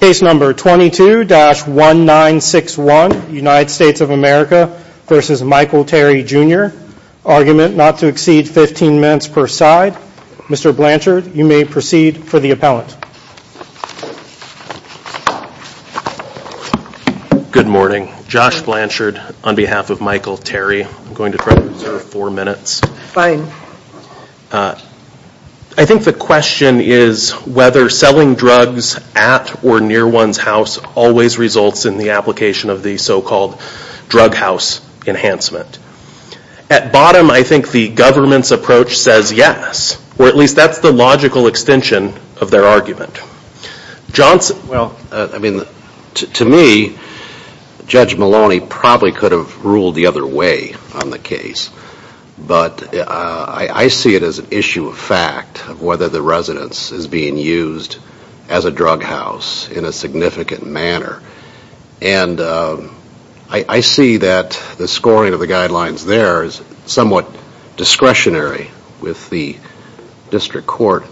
Case number 22-1961, United States of America v. Michael Terry Jr. Argument not to exceed 15 minutes per side. Mr. Blanchard, you may proceed for the appellant. Good morning. Josh Blanchard on behalf of Michael Terry. I'm going to try to reserve four minutes. Fine. I think the question is whether selling drugs at or near one's house always results in the application of the so-called drug house enhancement. At bottom, I think the government's approach says yes, or at least that's the logical extension of their argument. Johnson, well, I mean, to me, Judge Maloney probably could have ruled the other way on I see it as an issue of fact of whether the residence is being used as a drug house in a significant manner. I see that the scoring of the guidelines there is somewhat discretionary with the district court.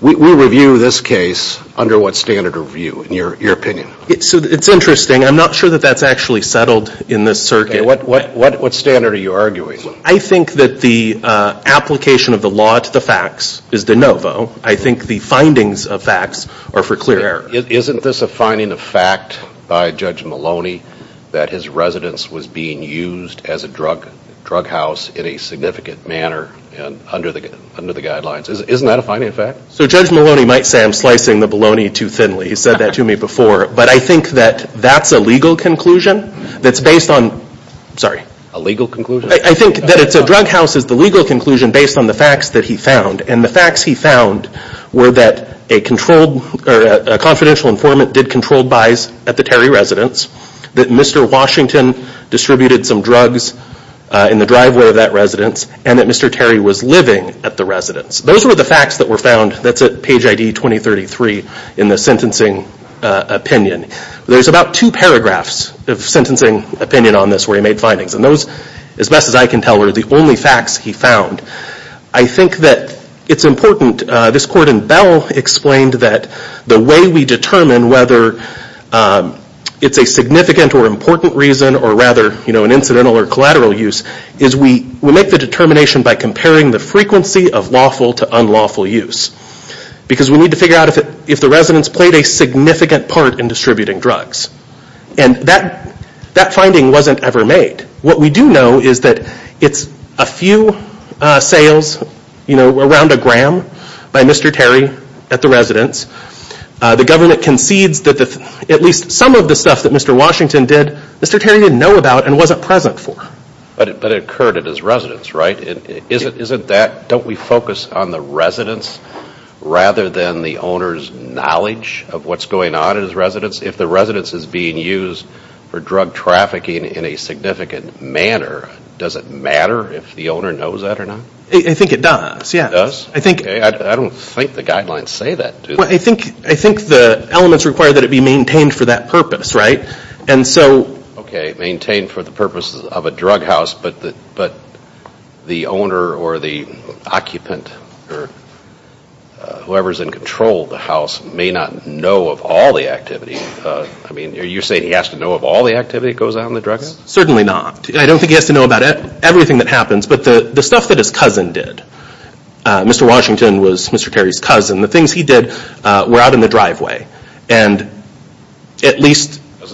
We review this case under what standard of view, in your opinion? It's interesting. I'm not sure that that's actually settled in this circuit. What standard are you arguing? I think that the application of the law to the facts is de novo. I think the findings of facts are for clear error. Isn't this a finding of fact by Judge Maloney that his residence was being used as a drug house in a significant manner under the guidelines? Isn't that a finding of fact? So Judge Maloney might say I'm slicing the bologna too thinly. He said that to me before. But I think that that's a legal conclusion that's based on... Sorry. A legal conclusion? I think that it's a drug house is the legal conclusion based on the facts that he found. The facts he found were that a confidential informant did controlled buys at the Terry residence, that Mr. Washington distributed some drugs in the driveway of that residence, and that Mr. Terry was living at the residence. Those were the facts that were found. That's at page ID 2033 in the sentencing opinion. There's about two paragraphs of sentencing opinion on this where he made findings. Those, as best as I can tell, are the only facts he found. I think that it's important. This court in Bell explained that the way we determine whether it's a significant or important reason or rather an incidental or collateral use is we make the determination by comparing the frequency of lawful to unlawful use because we need to figure out if the residence played a significant part in distributing drugs. That finding wasn't ever made. What we do know is that it's a few sales around a gram by Mr. Terry at the residence. The government concedes that at least some of the stuff that Mr. Washington did, Mr. Terry didn't know about and wasn't present for. But it occurred at his residence, right? Don't we focus on the residence rather than the owner's knowledge of what's going on at his residence? If the residence is being used for drug trafficking in a significant manner, does it matter if the owner knows that or not? I think it does, yeah. It does? I don't think the guidelines say that, do they? I think the elements require that it be maintained for that purpose, right? Okay, maintained for the purpose of a drug house, but the owner or the occupant or whoever is in control of the house may not know of all the activity. You're saying he has to know of all the activity that goes on in the drug house? Certainly not. I don't think he has to know about everything that happens, but the stuff that his cousin did, Mr. Washington was Mr. Terry's cousin. The things he did were out in the driveway. Doesn't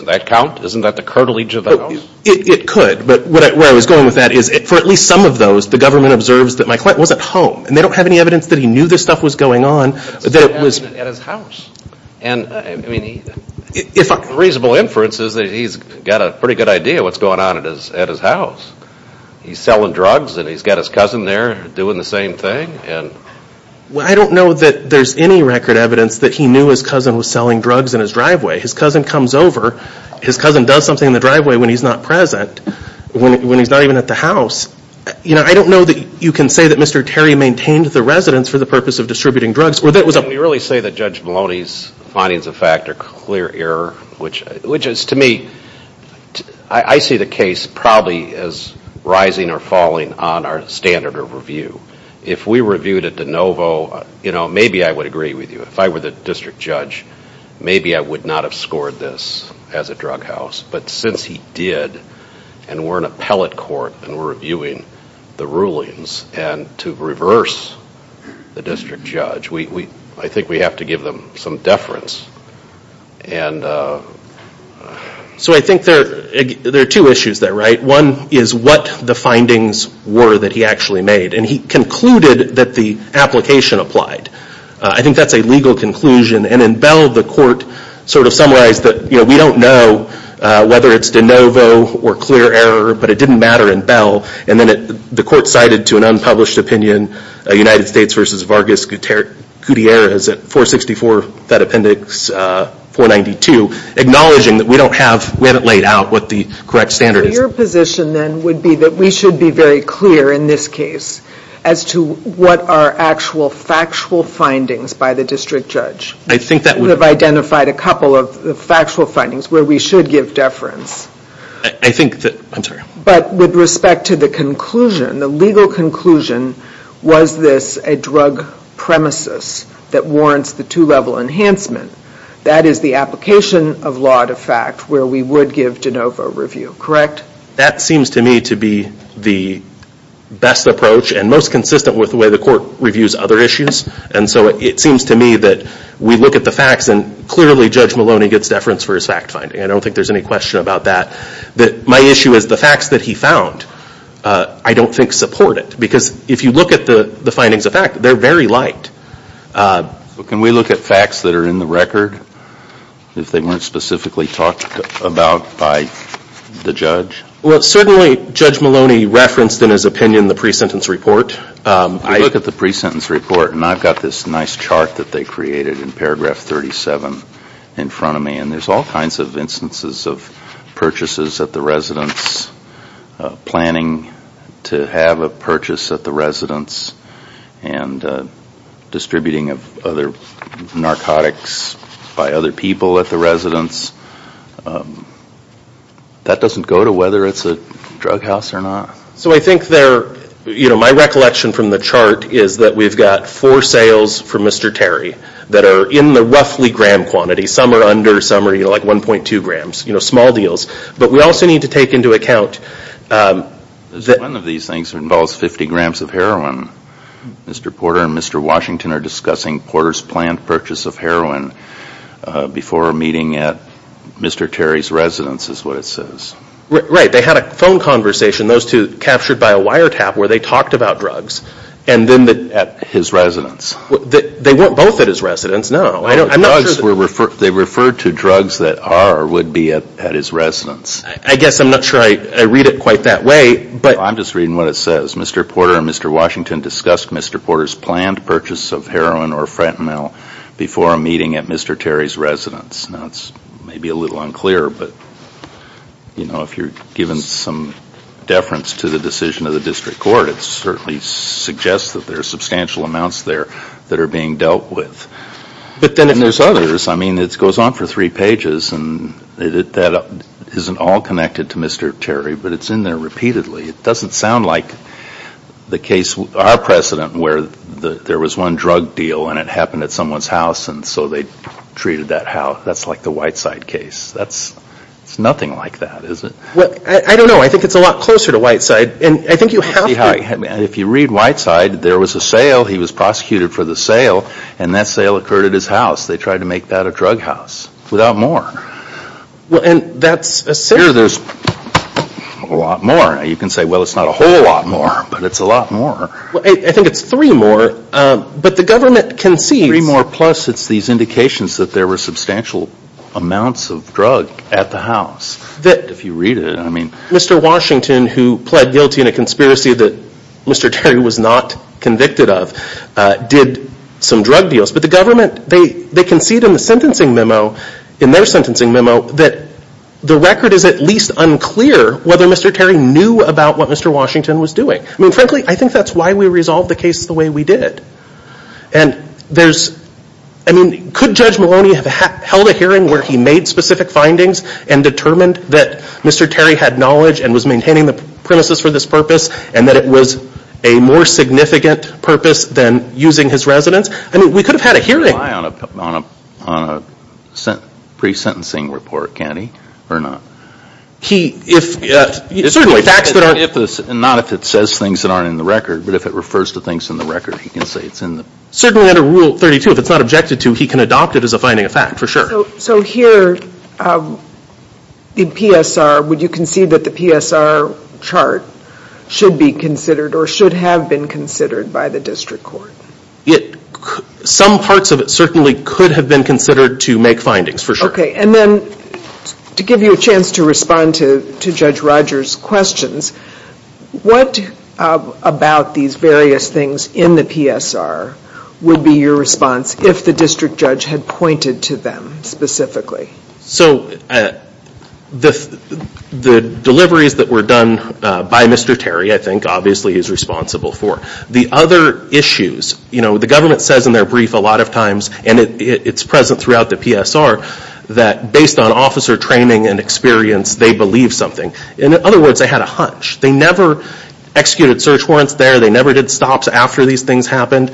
that count? Isn't that the cartilage of the house? It could, but where I was going with that is for at least some of those, the government observes that my client was at home, and they don't have any evidence that he knew this stuff was going on, but that it was... At his house, and I mean, reasonable inference is that he's got a pretty good idea of what's going on at his house. He's selling drugs and he's got his cousin there doing the same thing. Well, I don't know that there's any record evidence that he knew his cousin was selling drugs in his driveway. His cousin comes over. His cousin does something in the driveway when he's not present, when he's not even at the house. I don't know that you can say that Mr. Terry maintained the residence for the purpose of distributing drugs or that it was a... Can we really say that Judge Maloney's findings of fact are clear error, which is to me, I see the case probably as rising or falling on our standard of review. If we reviewed it de novo, maybe I would agree with you. If I were the district judge, maybe I would not have scored this as a drug house. But since he did, and we're in appellate court and we're reviewing the rulings, and to reverse the district judge, I think we have to give them some deference. So I think there are two issues there, right? One is what the findings were that he actually made, and he concluded that the application applied. I think that's a legal conclusion, and in Bell, the court summarized that we don't know whether it's de novo or clear error, but it didn't matter in Bell, and then the court cited to an unpublished opinion, United States versus Vargas Gutierrez at 464 Fed Appendix 492, acknowledging that we haven't laid out what the correct standard is. So your position then would be that we should be very clear in this case as to what are actual factual findings by the district judge. I think that would... We've identified a couple of factual findings where we should give deference. I think that... I'm sorry. But with respect to the conclusion, the legal conclusion, was this a drug premises that warrants the two-level enhancement? That is the application of law to fact where we would give de novo review, correct? That seems to me to be the best approach and most consistent with the way the court reviews other issues. And so it seems to me that we look at the facts, and clearly Judge Maloney gets deference for his fact finding. I don't think there's any question about that. My issue is the facts that he found, I don't think support it. Because if you look at the findings of fact, they're very light. Can we look at facts that are in the record? If they weren't specifically talked about by the judge? Well certainly Judge Maloney referenced in his opinion the pre-sentence report. I look at the pre-sentence report and I've got this nice chart that they created in paragraph 37 in front of me. And there's all kinds of instances of purchases at the residence, planning to have a purchase at the residence, and distributing of other narcotics by other people at the residence. That doesn't go to whether it's a drug house or not. So I think they're, you know my recollection from the chart is that we've got four sales for Mr. Terry that are in the roughly gram quantity. Some are under, some are like 1.2 grams, you know small deals. But we also need to take into account. One of these things involves 50 grams of heroin. Mr. Porter and Mr. Washington are discussing Porter's planned purchase of heroin before a meeting at Mr. Terry's residence is what it says. Right, they had a phone conversation, those two captured by a wiretap where they talked about drugs and then at his residence. They weren't both at his residence, no. I'm not sure. They referred to drugs that are or would be at his residence. I guess I'm not sure I read it quite that way, but. I'm just reading what it says. Mr. Porter and Mr. Washington discussed Mr. Porter's planned purchase of heroin or fentanyl before a meeting at Mr. Terry's residence. Now it's maybe a little unclear, but you know if you're given some deference to the decision of the district court it certainly suggests that there are substantial amounts there that are being dealt with. But then there's others. I mean it goes on for three pages and that isn't all connected to Mr. Terry, but it's in there repeatedly. It doesn't sound like the case, our precedent where there was one drug deal and it happened at someone's house and so they treated that how, that's like the Whiteside case. That's nothing like that, is it? Well, I don't know. I think it's a lot closer to Whiteside and I think you have to. If you read Whiteside there was a sale. He was prosecuted for the sale and that sale occurred at his house. They tried to make that a drug house without more. Well, and that's a sale. Here there's a lot more. You can say well it's not a whole lot more, but it's a lot more. Well, I think it's three more, but the government concedes. Three more plus it's these indications that there were substantial amounts of drug at the house if you read it, I mean. Mr. Washington who pled guilty in a conspiracy that Mr. Terry was not convicted of did some drug deals, but the government, they concede in the sentencing memo, in their sentencing memo that the record is at least unclear whether Mr. Terry knew about what Mr. Washington was doing. I mean frankly I think that's why we resolved the case the way we did. And there's, I mean could Judge Maloney have held a hearing where he made specific findings and determined that Mr. Terry had knowledge and was maintaining the premises for this purpose and that it was a more significant purpose than using his residence? I mean we could have had a hearing. On a pre-sentencing report, can he or not? He, if, certainly facts that aren't. Not if it says things that aren't in the record, but if it refers to things in the record he can say it's in the. Certainly under Rule 32 if it's not objected to he can adopt it as a finding of fact for sure. So here in PSR would you concede that the PSR chart should be considered or should have been considered by the district court? It, some parts of it certainly could have been considered to make findings for sure. Okay and then to give you a chance to respond to Judge Rogers' questions, what about these various things in the PSR would be your response if the district judge had pointed to them specifically? So the deliveries that were done by Mr. Terry I think obviously is responsible for. The other issues, you know the government says in their brief a lot of times and it's present throughout the PSR that based on officer training and experience they believe something. In other words they had a hunch. They never executed search warrants there. They never did stops after these things happened.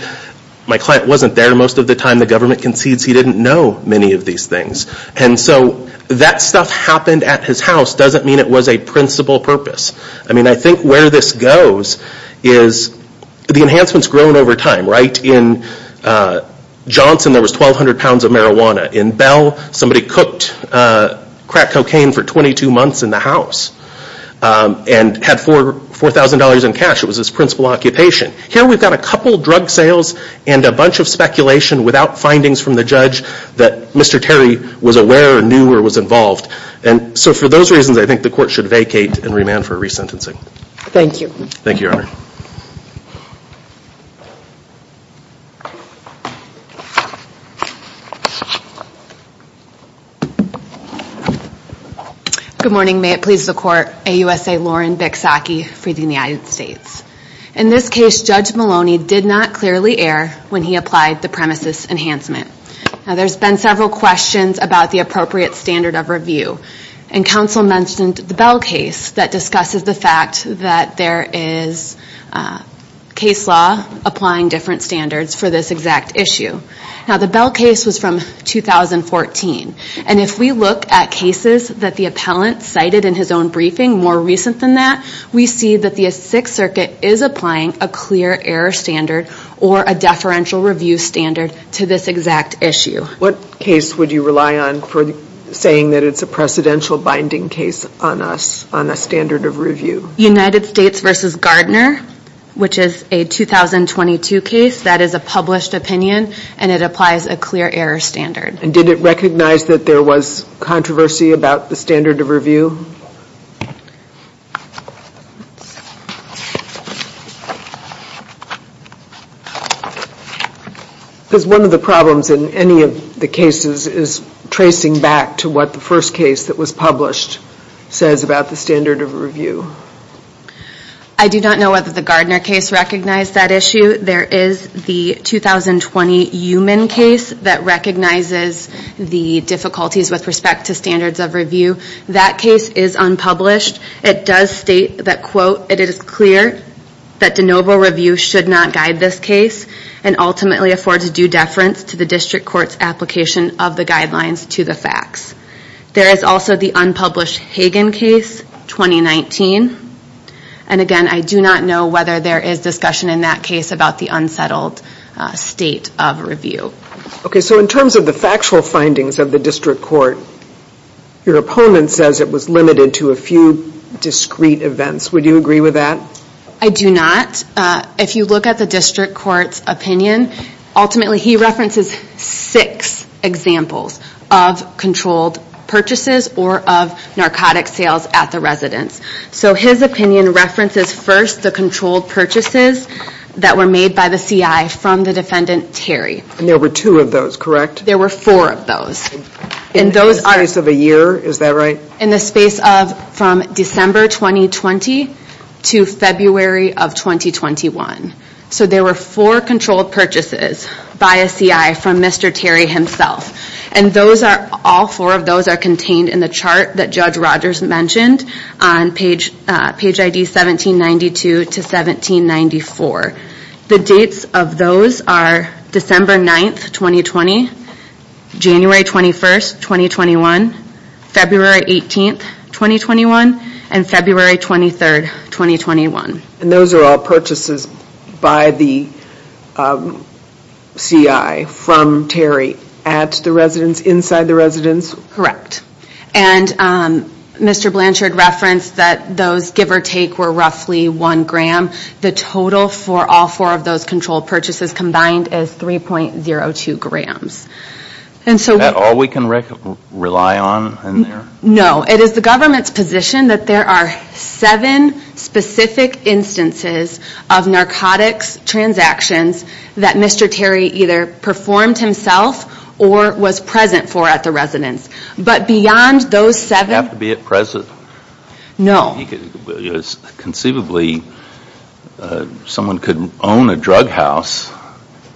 My client wasn't there most of the time. The government concedes he didn't know many of these things. And so that stuff happened at his house doesn't mean it was a principal purpose. I mean I think where this goes is the enhancements grown over time. Right in Johnson there was 1,200 pounds of marijuana. In Bell somebody cooked crack cocaine for 22 months in the house and had $4,000 in cash. It was his principal occupation. Here we've got a couple drug sales and a bunch of speculation without findings from the judge that Mr. Terry was aware or knew or was involved. And so for those reasons I think the court should vacate and remand for resentencing. Thank you. Thank you, Your Honor. Good morning. May it please the court. AUSA Lauren Bicksacki for the United States. In this case Judge Maloney did not clearly err when he applied the premises enhancement. Now there's been several questions about the appropriate standard of review. And counsel mentioned the Bell case that discusses the fact that there is case law applying different standards for this exact issue. Now the Bell case was from 2014. And if we look at cases that the appellant cited in his own briefing more recent than that, we see that the Sixth Circuit is applying a clear error standard or a deferential review standard to this exact issue. What case would you rely on for saying that it's a precedential binding case on us, on the standard of review? United States v. Gardner, which is a 2022 case that is a published opinion and it applies a clear error standard. Does one of the problems in any of the cases is tracing back to what the first case that was published says about the standard of review? I do not know whether the Gardner case recognized that issue. There is the 2020 Eumann case that recognizes the difficulties with respect to standards of review. That case is unpublished. It does state that, quote, it is clear that de novo review should not guide this case and ultimately affords due deference to the district court's application of the guidelines to the facts. There is also the unpublished Hagen case, 2019. And again, I do not know whether there is discussion in that case about the unsettled state of review. Okay, so in terms of the factual findings of the district court, your opponent says it was limited to a few discrete events. Would you agree with that? I do not. If you look at the district court's opinion, ultimately he references six examples of controlled purchases or of narcotic sales at the residence. So his opinion references first the controlled purchases that were made by the CI from the defendant, Terry. And there were two of those, correct? There were four of those. In the space of a year, is that right? In the space of from December 2020 to February of 2021. So there were four controlled purchases by a CI from Mr. Terry himself. And all four of those are contained in the chart that Judge Rogers mentioned on page ID 1792 to 1794. The dates of those are December 9th, 2020, January 21st, 2021, February 18th, 2021, and February 23rd, 2021. And those are all purchases by the CI from Terry at the residence, inside the residence? Correct. And Mr. Blanchard referenced that those, give or take, were roughly one gram. The total for all four of those controlled purchases combined is 3.02 grams. Is that all we can rely on in there? No. It is the government's position that there are seven specific instances of narcotics transactions that Mr. Terry either performed himself or was present for at the residence. But beyond those seven... Did he have to be at present? No. Conceivably, someone could own a drug house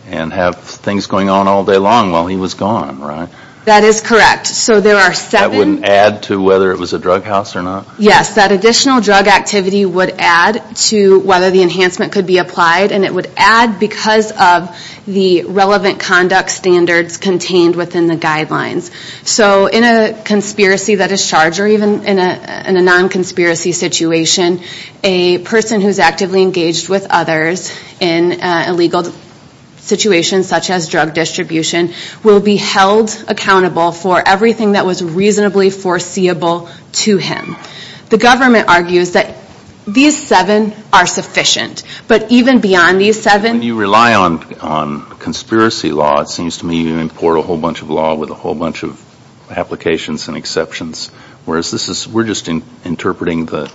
and have things going on all day long while he was gone, right? That is correct. So there are seven... That wouldn't add to whether it was a drug house or not? Yes. That additional drug activity would add to whether the enhancement could be applied. And it would add because of the relevant conduct standards contained within the guidelines. So in a conspiracy that is charged or even in a non-conspiracy situation, a person who is actively engaged with others in a legal situation such as drug distribution will be held accountable for everything that was reasonably foreseeable to him. The government argues that these seven are sufficient. But even beyond these seven... When you rely on conspiracy law, it seems to me you import a whole bunch of law with a whole bunch of applications and exceptions. Whereas this is... We're just interpreting the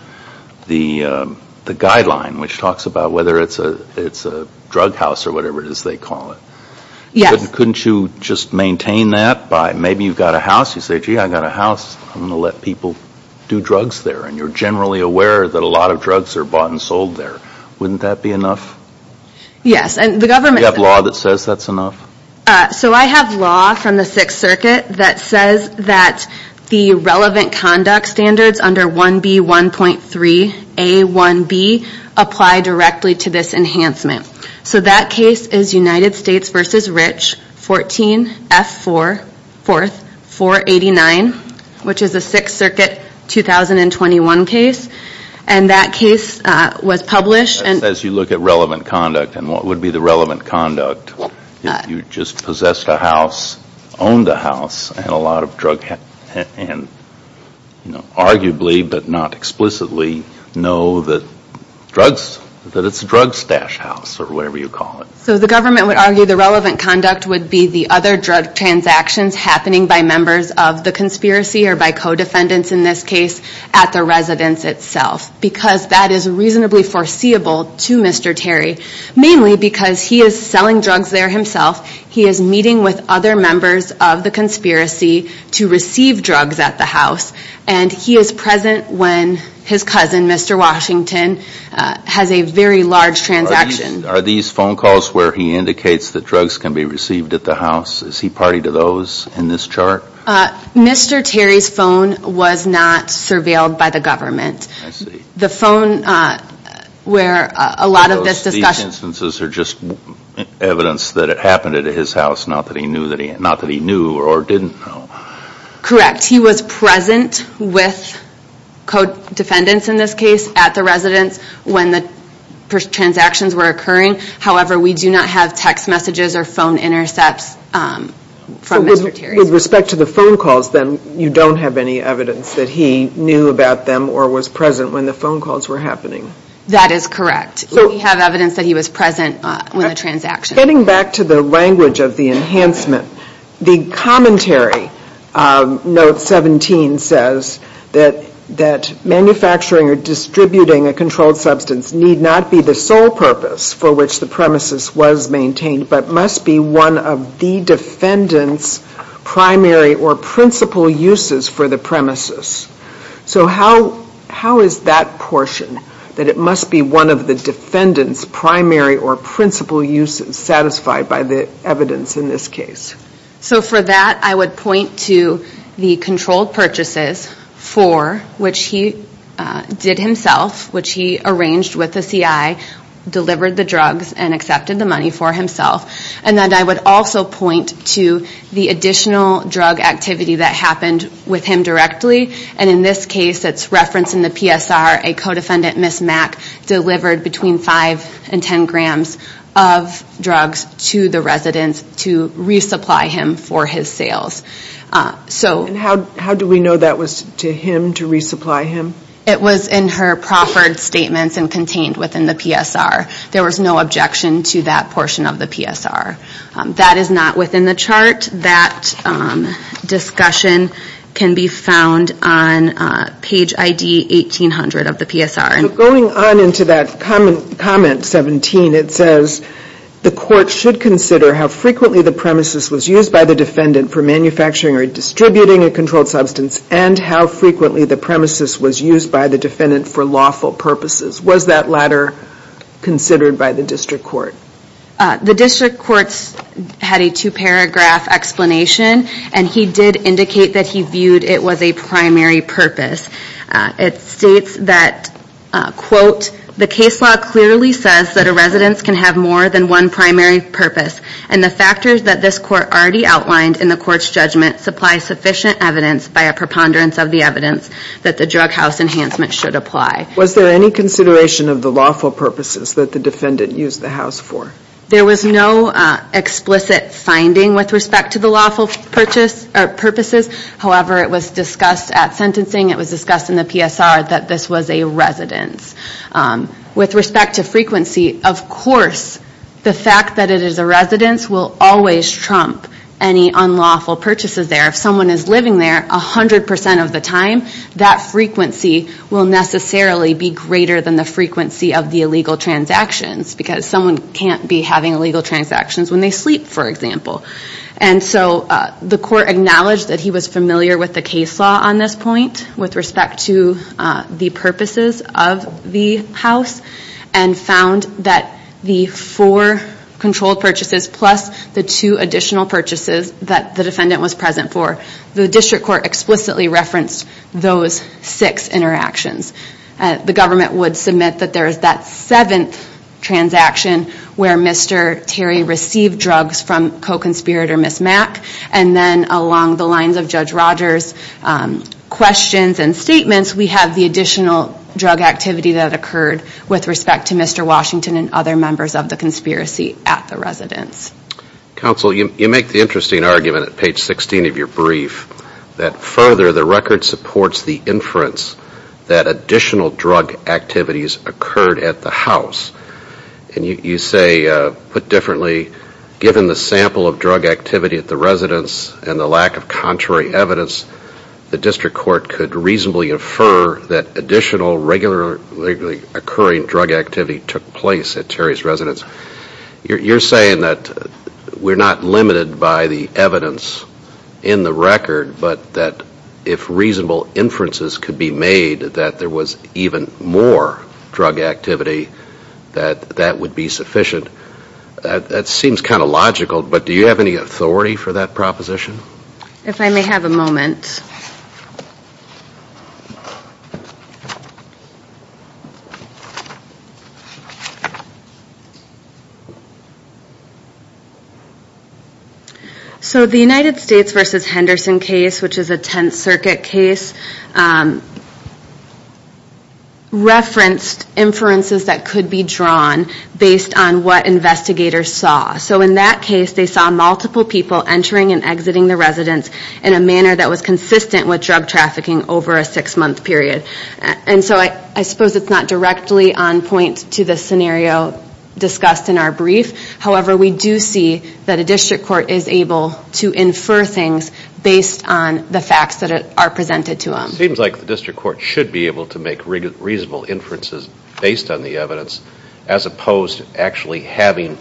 guideline which talks about whether it's a drug house or whatever it is they call it. Yes. Couldn't you just maintain that by... Maybe you've got a house. You say, gee, I've got a house. I'm going to let people do drugs there. And you're generally aware that a lot of drugs are bought and sold there. Wouldn't that be enough? Yes. And the government... Is there a law that says that's enough? So I have law from the Sixth Circuit that says that the relevant conduct standards under 1B1.3A1B apply directly to this enhancement. So that case is United States v. Rich, 14F4, 489, which is a Sixth Circuit 2021 case. And that case was published... As you look at relevant conduct, and what would be the relevant conduct if you just possessed a house, owned a house, and a lot of drug... And arguably, but not explicitly, know that drugs, that it's a drug stash house or whatever you call it. So the government would argue the relevant conduct would be the other drug transactions happening by members of the conspiracy or by co-defendants in this case at the residence itself. Because that is reasonably foreseeable to Mr. Terry. Mainly because he is selling drugs there himself. He is meeting with other members of the conspiracy to receive drugs at the house. And he is present when his cousin, Mr. Washington, has a very large transaction. Are these phone calls where he indicates that drugs can be received at the house? Is he party to those in this chart? Mr. Terry's phone was not surveilled by the government. The phone where a lot of this discussion... So these instances are just evidence that it happened at his house, not that he knew or didn't know. Correct. He was present with co-defendants in this case at the residence when the transactions were occurring. However, we do not have text messages or phone intercepts from Mr. Terry. With respect to the phone calls then, you don't have any evidence that he knew about them or was present when the phone calls were happening. That is correct. We have evidence that he was present with the transactions. Getting back to the language of the enhancement. The commentary, note 17, says that manufacturing or distributing a controlled substance need not be the sole purpose for which the premises was maintained, but must be one of the defendant's primary or principal uses for the premises. How is that portion, that it must be one of the defendant's primary or principal uses, satisfied by the evidence in this case? For that, I would point to the controlled purchases for which he did himself, which he arranged with the CI, delivered the drugs, and accepted the money for himself. I would also point to the additional drug activity that happened with him directly. In this case, it's referenced in the PSR, a co-defendant, Ms. Mack, delivered between 5 and 10 grams of drugs to the residence to resupply him for his sales. How do we know that was to him, to resupply him? It was in her proffered statements and contained within the PSR. There was no objection to that portion of the PSR. That is not within the chart. That discussion can be found on page ID 1800 of the PSR. Going on into that comment 17, it says, the court should consider how frequently the premises was used by the defendant for manufacturing or distributing a controlled substance, and how frequently the premises was used by the defendant for lawful purposes. Was that latter considered by the district court? The district court had a two-paragraph explanation, and he did indicate that he viewed it was a primary purpose. It states that, quote, the case law clearly says that a residence can have more than one primary purpose, and the factors that this court already outlined in the court's judgment supply sufficient evidence by a preponderance of the evidence that the drug house enhancement should apply. Was there any consideration of the lawful purposes that the defendant used the house for? There was no explicit finding with respect to the lawful purposes. However, it was discussed at sentencing. It was discussed in the PSR that this was a residence. With respect to frequency, of course, the fact that it is a residence will always trump any unlawful purchases there. If someone is living there 100% of the time, that frequency will necessarily be greater than the frequency of the illegal transactions, because someone can't be having illegal transactions when they sleep, for example. And so the court acknowledged that he was familiar with the case law on this point with respect to the purposes of the house, and found that the four controlled purchases plus the two additional purchases that the defendant was present for, the district court explicitly referenced those six interactions. The government would submit that there is that seventh transaction where Mr. Terry received drugs from co-conspirator Ms. Mack, and then along the lines of Judge Rogers' questions and statements, we have the additional drug activity that occurred with respect to Mr. Washington and other members of the conspiracy at the residence. Counsel, you make the interesting argument at page 16 of your brief, that further the record supports the inference that additional drug activities occurred at the house. And you say, put differently, given the sample of drug activity at the residence and the lack of contrary evidence, the district court could reasonably infer that additional regularly occurring drug activity took place at Terry's residence. You're saying that we're not limited by the evidence in the record, but that if reasonable inferences could be made that there was even more drug activity, that that would be sufficient. That seems kind of logical, but do you have any authority for that proposition? If I may have a moment. So the United States v. Henderson case, which is a Tenth Circuit case, referenced inferences that could be drawn based on what investigators saw. So in that case, they saw multiple people entering and exiting the residence in a manner that was consistent with drug trafficking over a six-month period. And so I suppose it's not directly on point to the scenario discussed in our brief. However, we do see that a district court is able to infer things based on the facts that are presented to them. It seems like the district court should be able to make reasonable inferences based on the evidence as opposed to actually having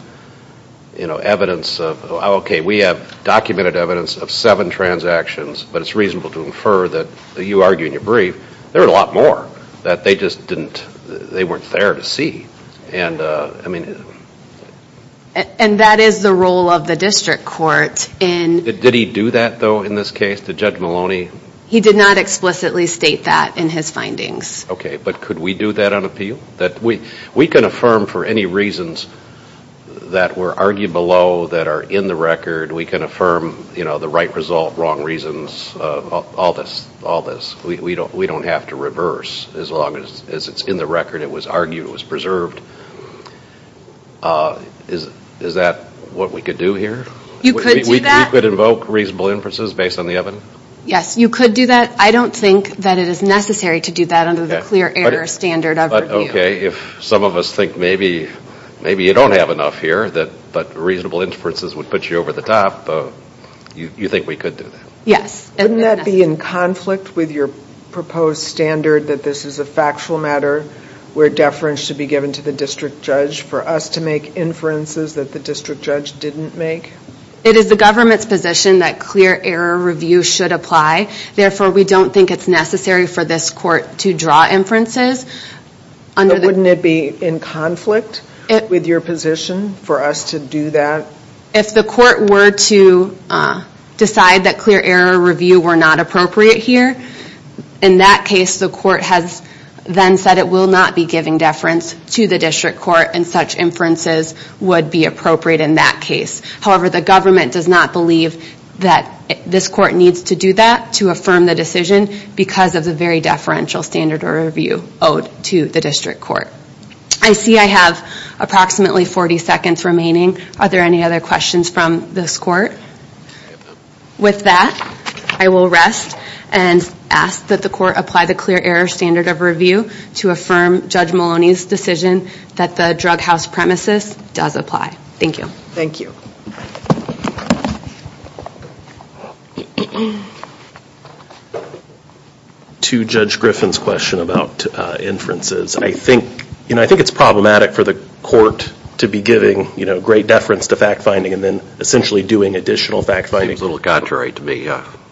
evidence of, okay, we have documented evidence of seven transactions, but it's reasonable to infer that you argue in your brief there were a lot more that they just weren't there to see. And that is the role of the district court in Did he do that, though, in this case? Did Judge Maloney He did not explicitly state that in his findings. Okay, but could we do that on appeal? We can affirm for any reasons that were argued below that are in the record. We can affirm the right result, wrong reasons, all this. We don't have to reverse as long as it's in the record, it was argued, it was preserved. Is that what we could do here? You could do that. We could invoke reasonable inferences based on the evidence? Yes, you could do that. I don't think that it is necessary to do that under the clear error standard of review. But, okay, if some of us think maybe you don't have enough here, but reasonable inferences would put you over the top, you think we could do that? Yes. Wouldn't that be in conflict with your proposed standard that this is a factual matter where deference should be given to the district judge for us to make inferences that the district judge didn't make? It is the government's position that clear error review should apply. Therefore, we don't think it's necessary for this court to draw inferences. Wouldn't it be in conflict with your position for us to do that? If the court were to decide that clear error review were not appropriate here, in that case the court has then said it will not be giving deference to the district court and such inferences would be appropriate in that case. However, the government does not believe that this court needs to do that to affirm the decision because of the very deferential standard of review owed to the district court. I see I have approximately 40 seconds remaining. Are there any other questions from this court? With that, I will rest and ask that the court apply the clear error standard of review to affirm Judge Maloney's decision that the drug house premises does apply. Thank you. Thank you. To Judge Griffin's question about inferences, I think it's problematic for the court to be giving great deference to fact-finding and then essentially doing additional fact-finding. Seems a little contrary to me.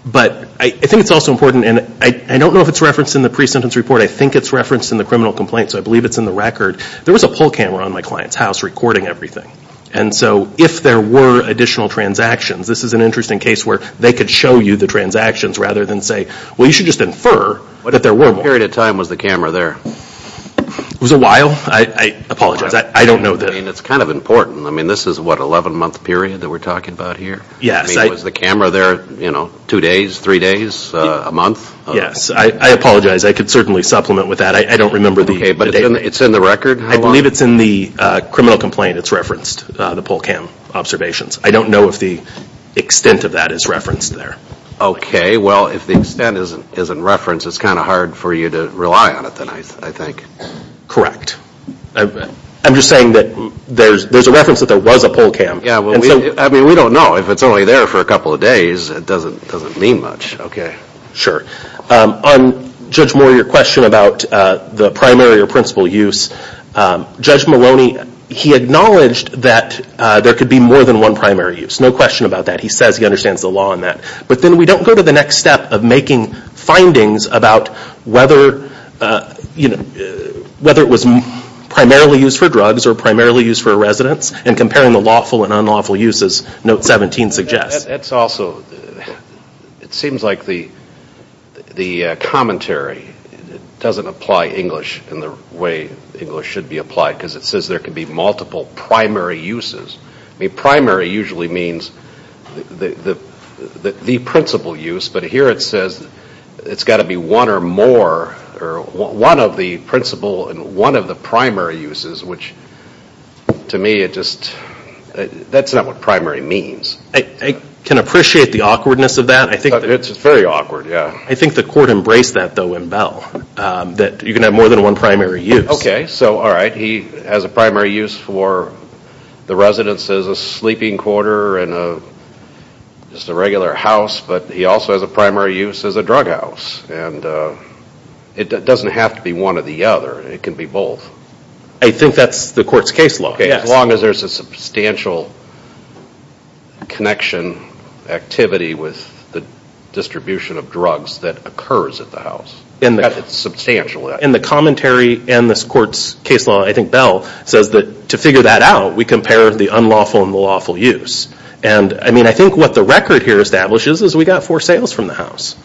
But I think it's also important, and I don't know if it's referenced in the pre-sentence report. I think it's referenced in the criminal complaint, so I believe it's in the record. There was a pull camera on my client's house recording everything. And so if there were additional transactions, this is an interesting case where they could show you the transactions rather than say, well, you should just infer that there were more. What period of time was the camera there? It was a while. I apologize. I don't know. I mean, it's kind of important. I mean, this is, what, an 11-month period that we're talking about here? Yes. I mean, was the camera there, you know, two days, three days, a month? Yes. I apologize. I could certainly supplement with that. I don't remember the date. Okay. But it's in the record? I believe it's in the criminal complaint. It's referenced, the pull cam observations. I don't know if the extent of that is referenced there. Okay. Well, if the extent isn't referenced, it's kind of hard for you to rely on it then, I think. Correct. I'm just saying that there's a reference that there was a pull cam. Yeah. I mean, we don't know. If it's only there for a couple of days, it doesn't mean much. Okay. Sure. On, Judge Moore, your question about the primary or principal use, Judge Maloney, he acknowledged that there could be more than one primary use. No question about that. He says he understands the law on that. But then we don't go to the next step of making findings about whether, you know, whether it was primarily used for drugs or primarily used for residence and comparing the lawful and unlawful uses, Note 17 suggests. That's also, it seems like the commentary doesn't apply English in the way English should be applied because it says there could be multiple primary uses. I mean, primary usually means the principal use, but here it says it's got to be one or more, or one of the principal and one of the primary uses, which to me it just, that's not what primary means. I can appreciate the awkwardness of that. It's very awkward, yeah. I think the court embraced that, though, in Bell, that you can have more than one primary use. Okay. So, all right. He has a primary use for the residence as a sleeping quarter and just a regular house, but he also has a primary use as a drug house. And it doesn't have to be one or the other. It can be both. I think that's the court's case law, yes. As long as there's a substantial connection activity with the distribution of drugs that occurs at the house. In the commentary and this court's case law, I think Bell says that to figure that out, we compare the unlawful and the lawful use. And, I mean, I think what the record here establishes is we got four sales from the house.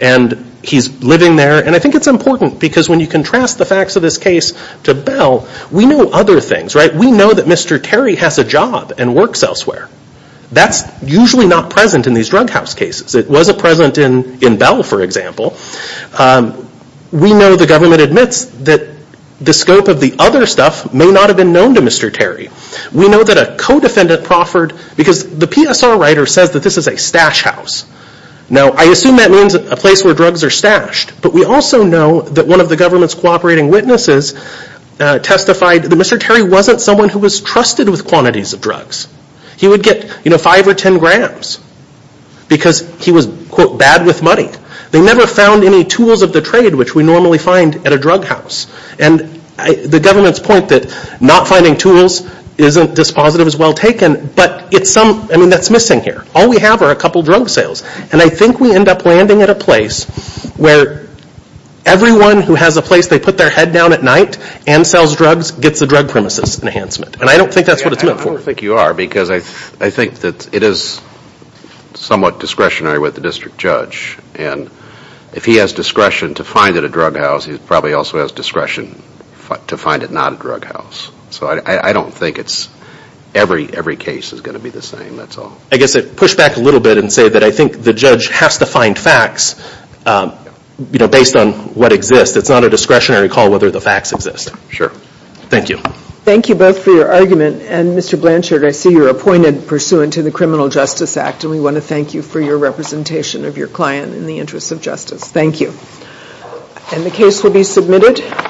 And he's living there, and I think it's important because when you contrast the facts of this case to Bell, we know other things, right? We know that Mr. Terry has a job and works elsewhere. That's usually not present in these drug house cases. It wasn't present in Bell, for example. We know the government admits that the scope of the other stuff may not have been known to Mr. Terry. We know that a co-defendant proffered, because the PSR writer says that this is a stash house. Now, I assume that means a place where drugs are stashed, but we also know that one of the government's cooperating witnesses testified that Mr. Terry wasn't someone who was trusted with quantities of drugs. He would get, you know, five or ten grams because he was, quote, bad with money. They never found any tools of the trade, which we normally find at a drug house. And the government's point that not finding tools isn't dispositive is well taken, but it's some, I mean, that's missing here. All we have are a couple drug sales, and I think we end up landing at a place where everyone who has a place they put their head down at night and sells drugs gets a drug premises enhancement. And I don't think that's what it's meant for. I don't think you are, because I think that it is somewhat discretionary with the district judge. And if he has discretion to find it a drug house, he probably also has discretion to find it not a drug house. So I don't think every case is going to be the same, that's all. I guess I'd push back a little bit and say that I think the judge has to find facts, you know, based on what exists. It's not a discretionary call whether the facts exist. Sure. Thank you. Thank you both for your argument. And Mr. Blanchard, I see you're appointed pursuant to the Criminal Justice Act, and we want to thank you for your representation of your client in the interest of justice. Thank you. And the case will be submitted.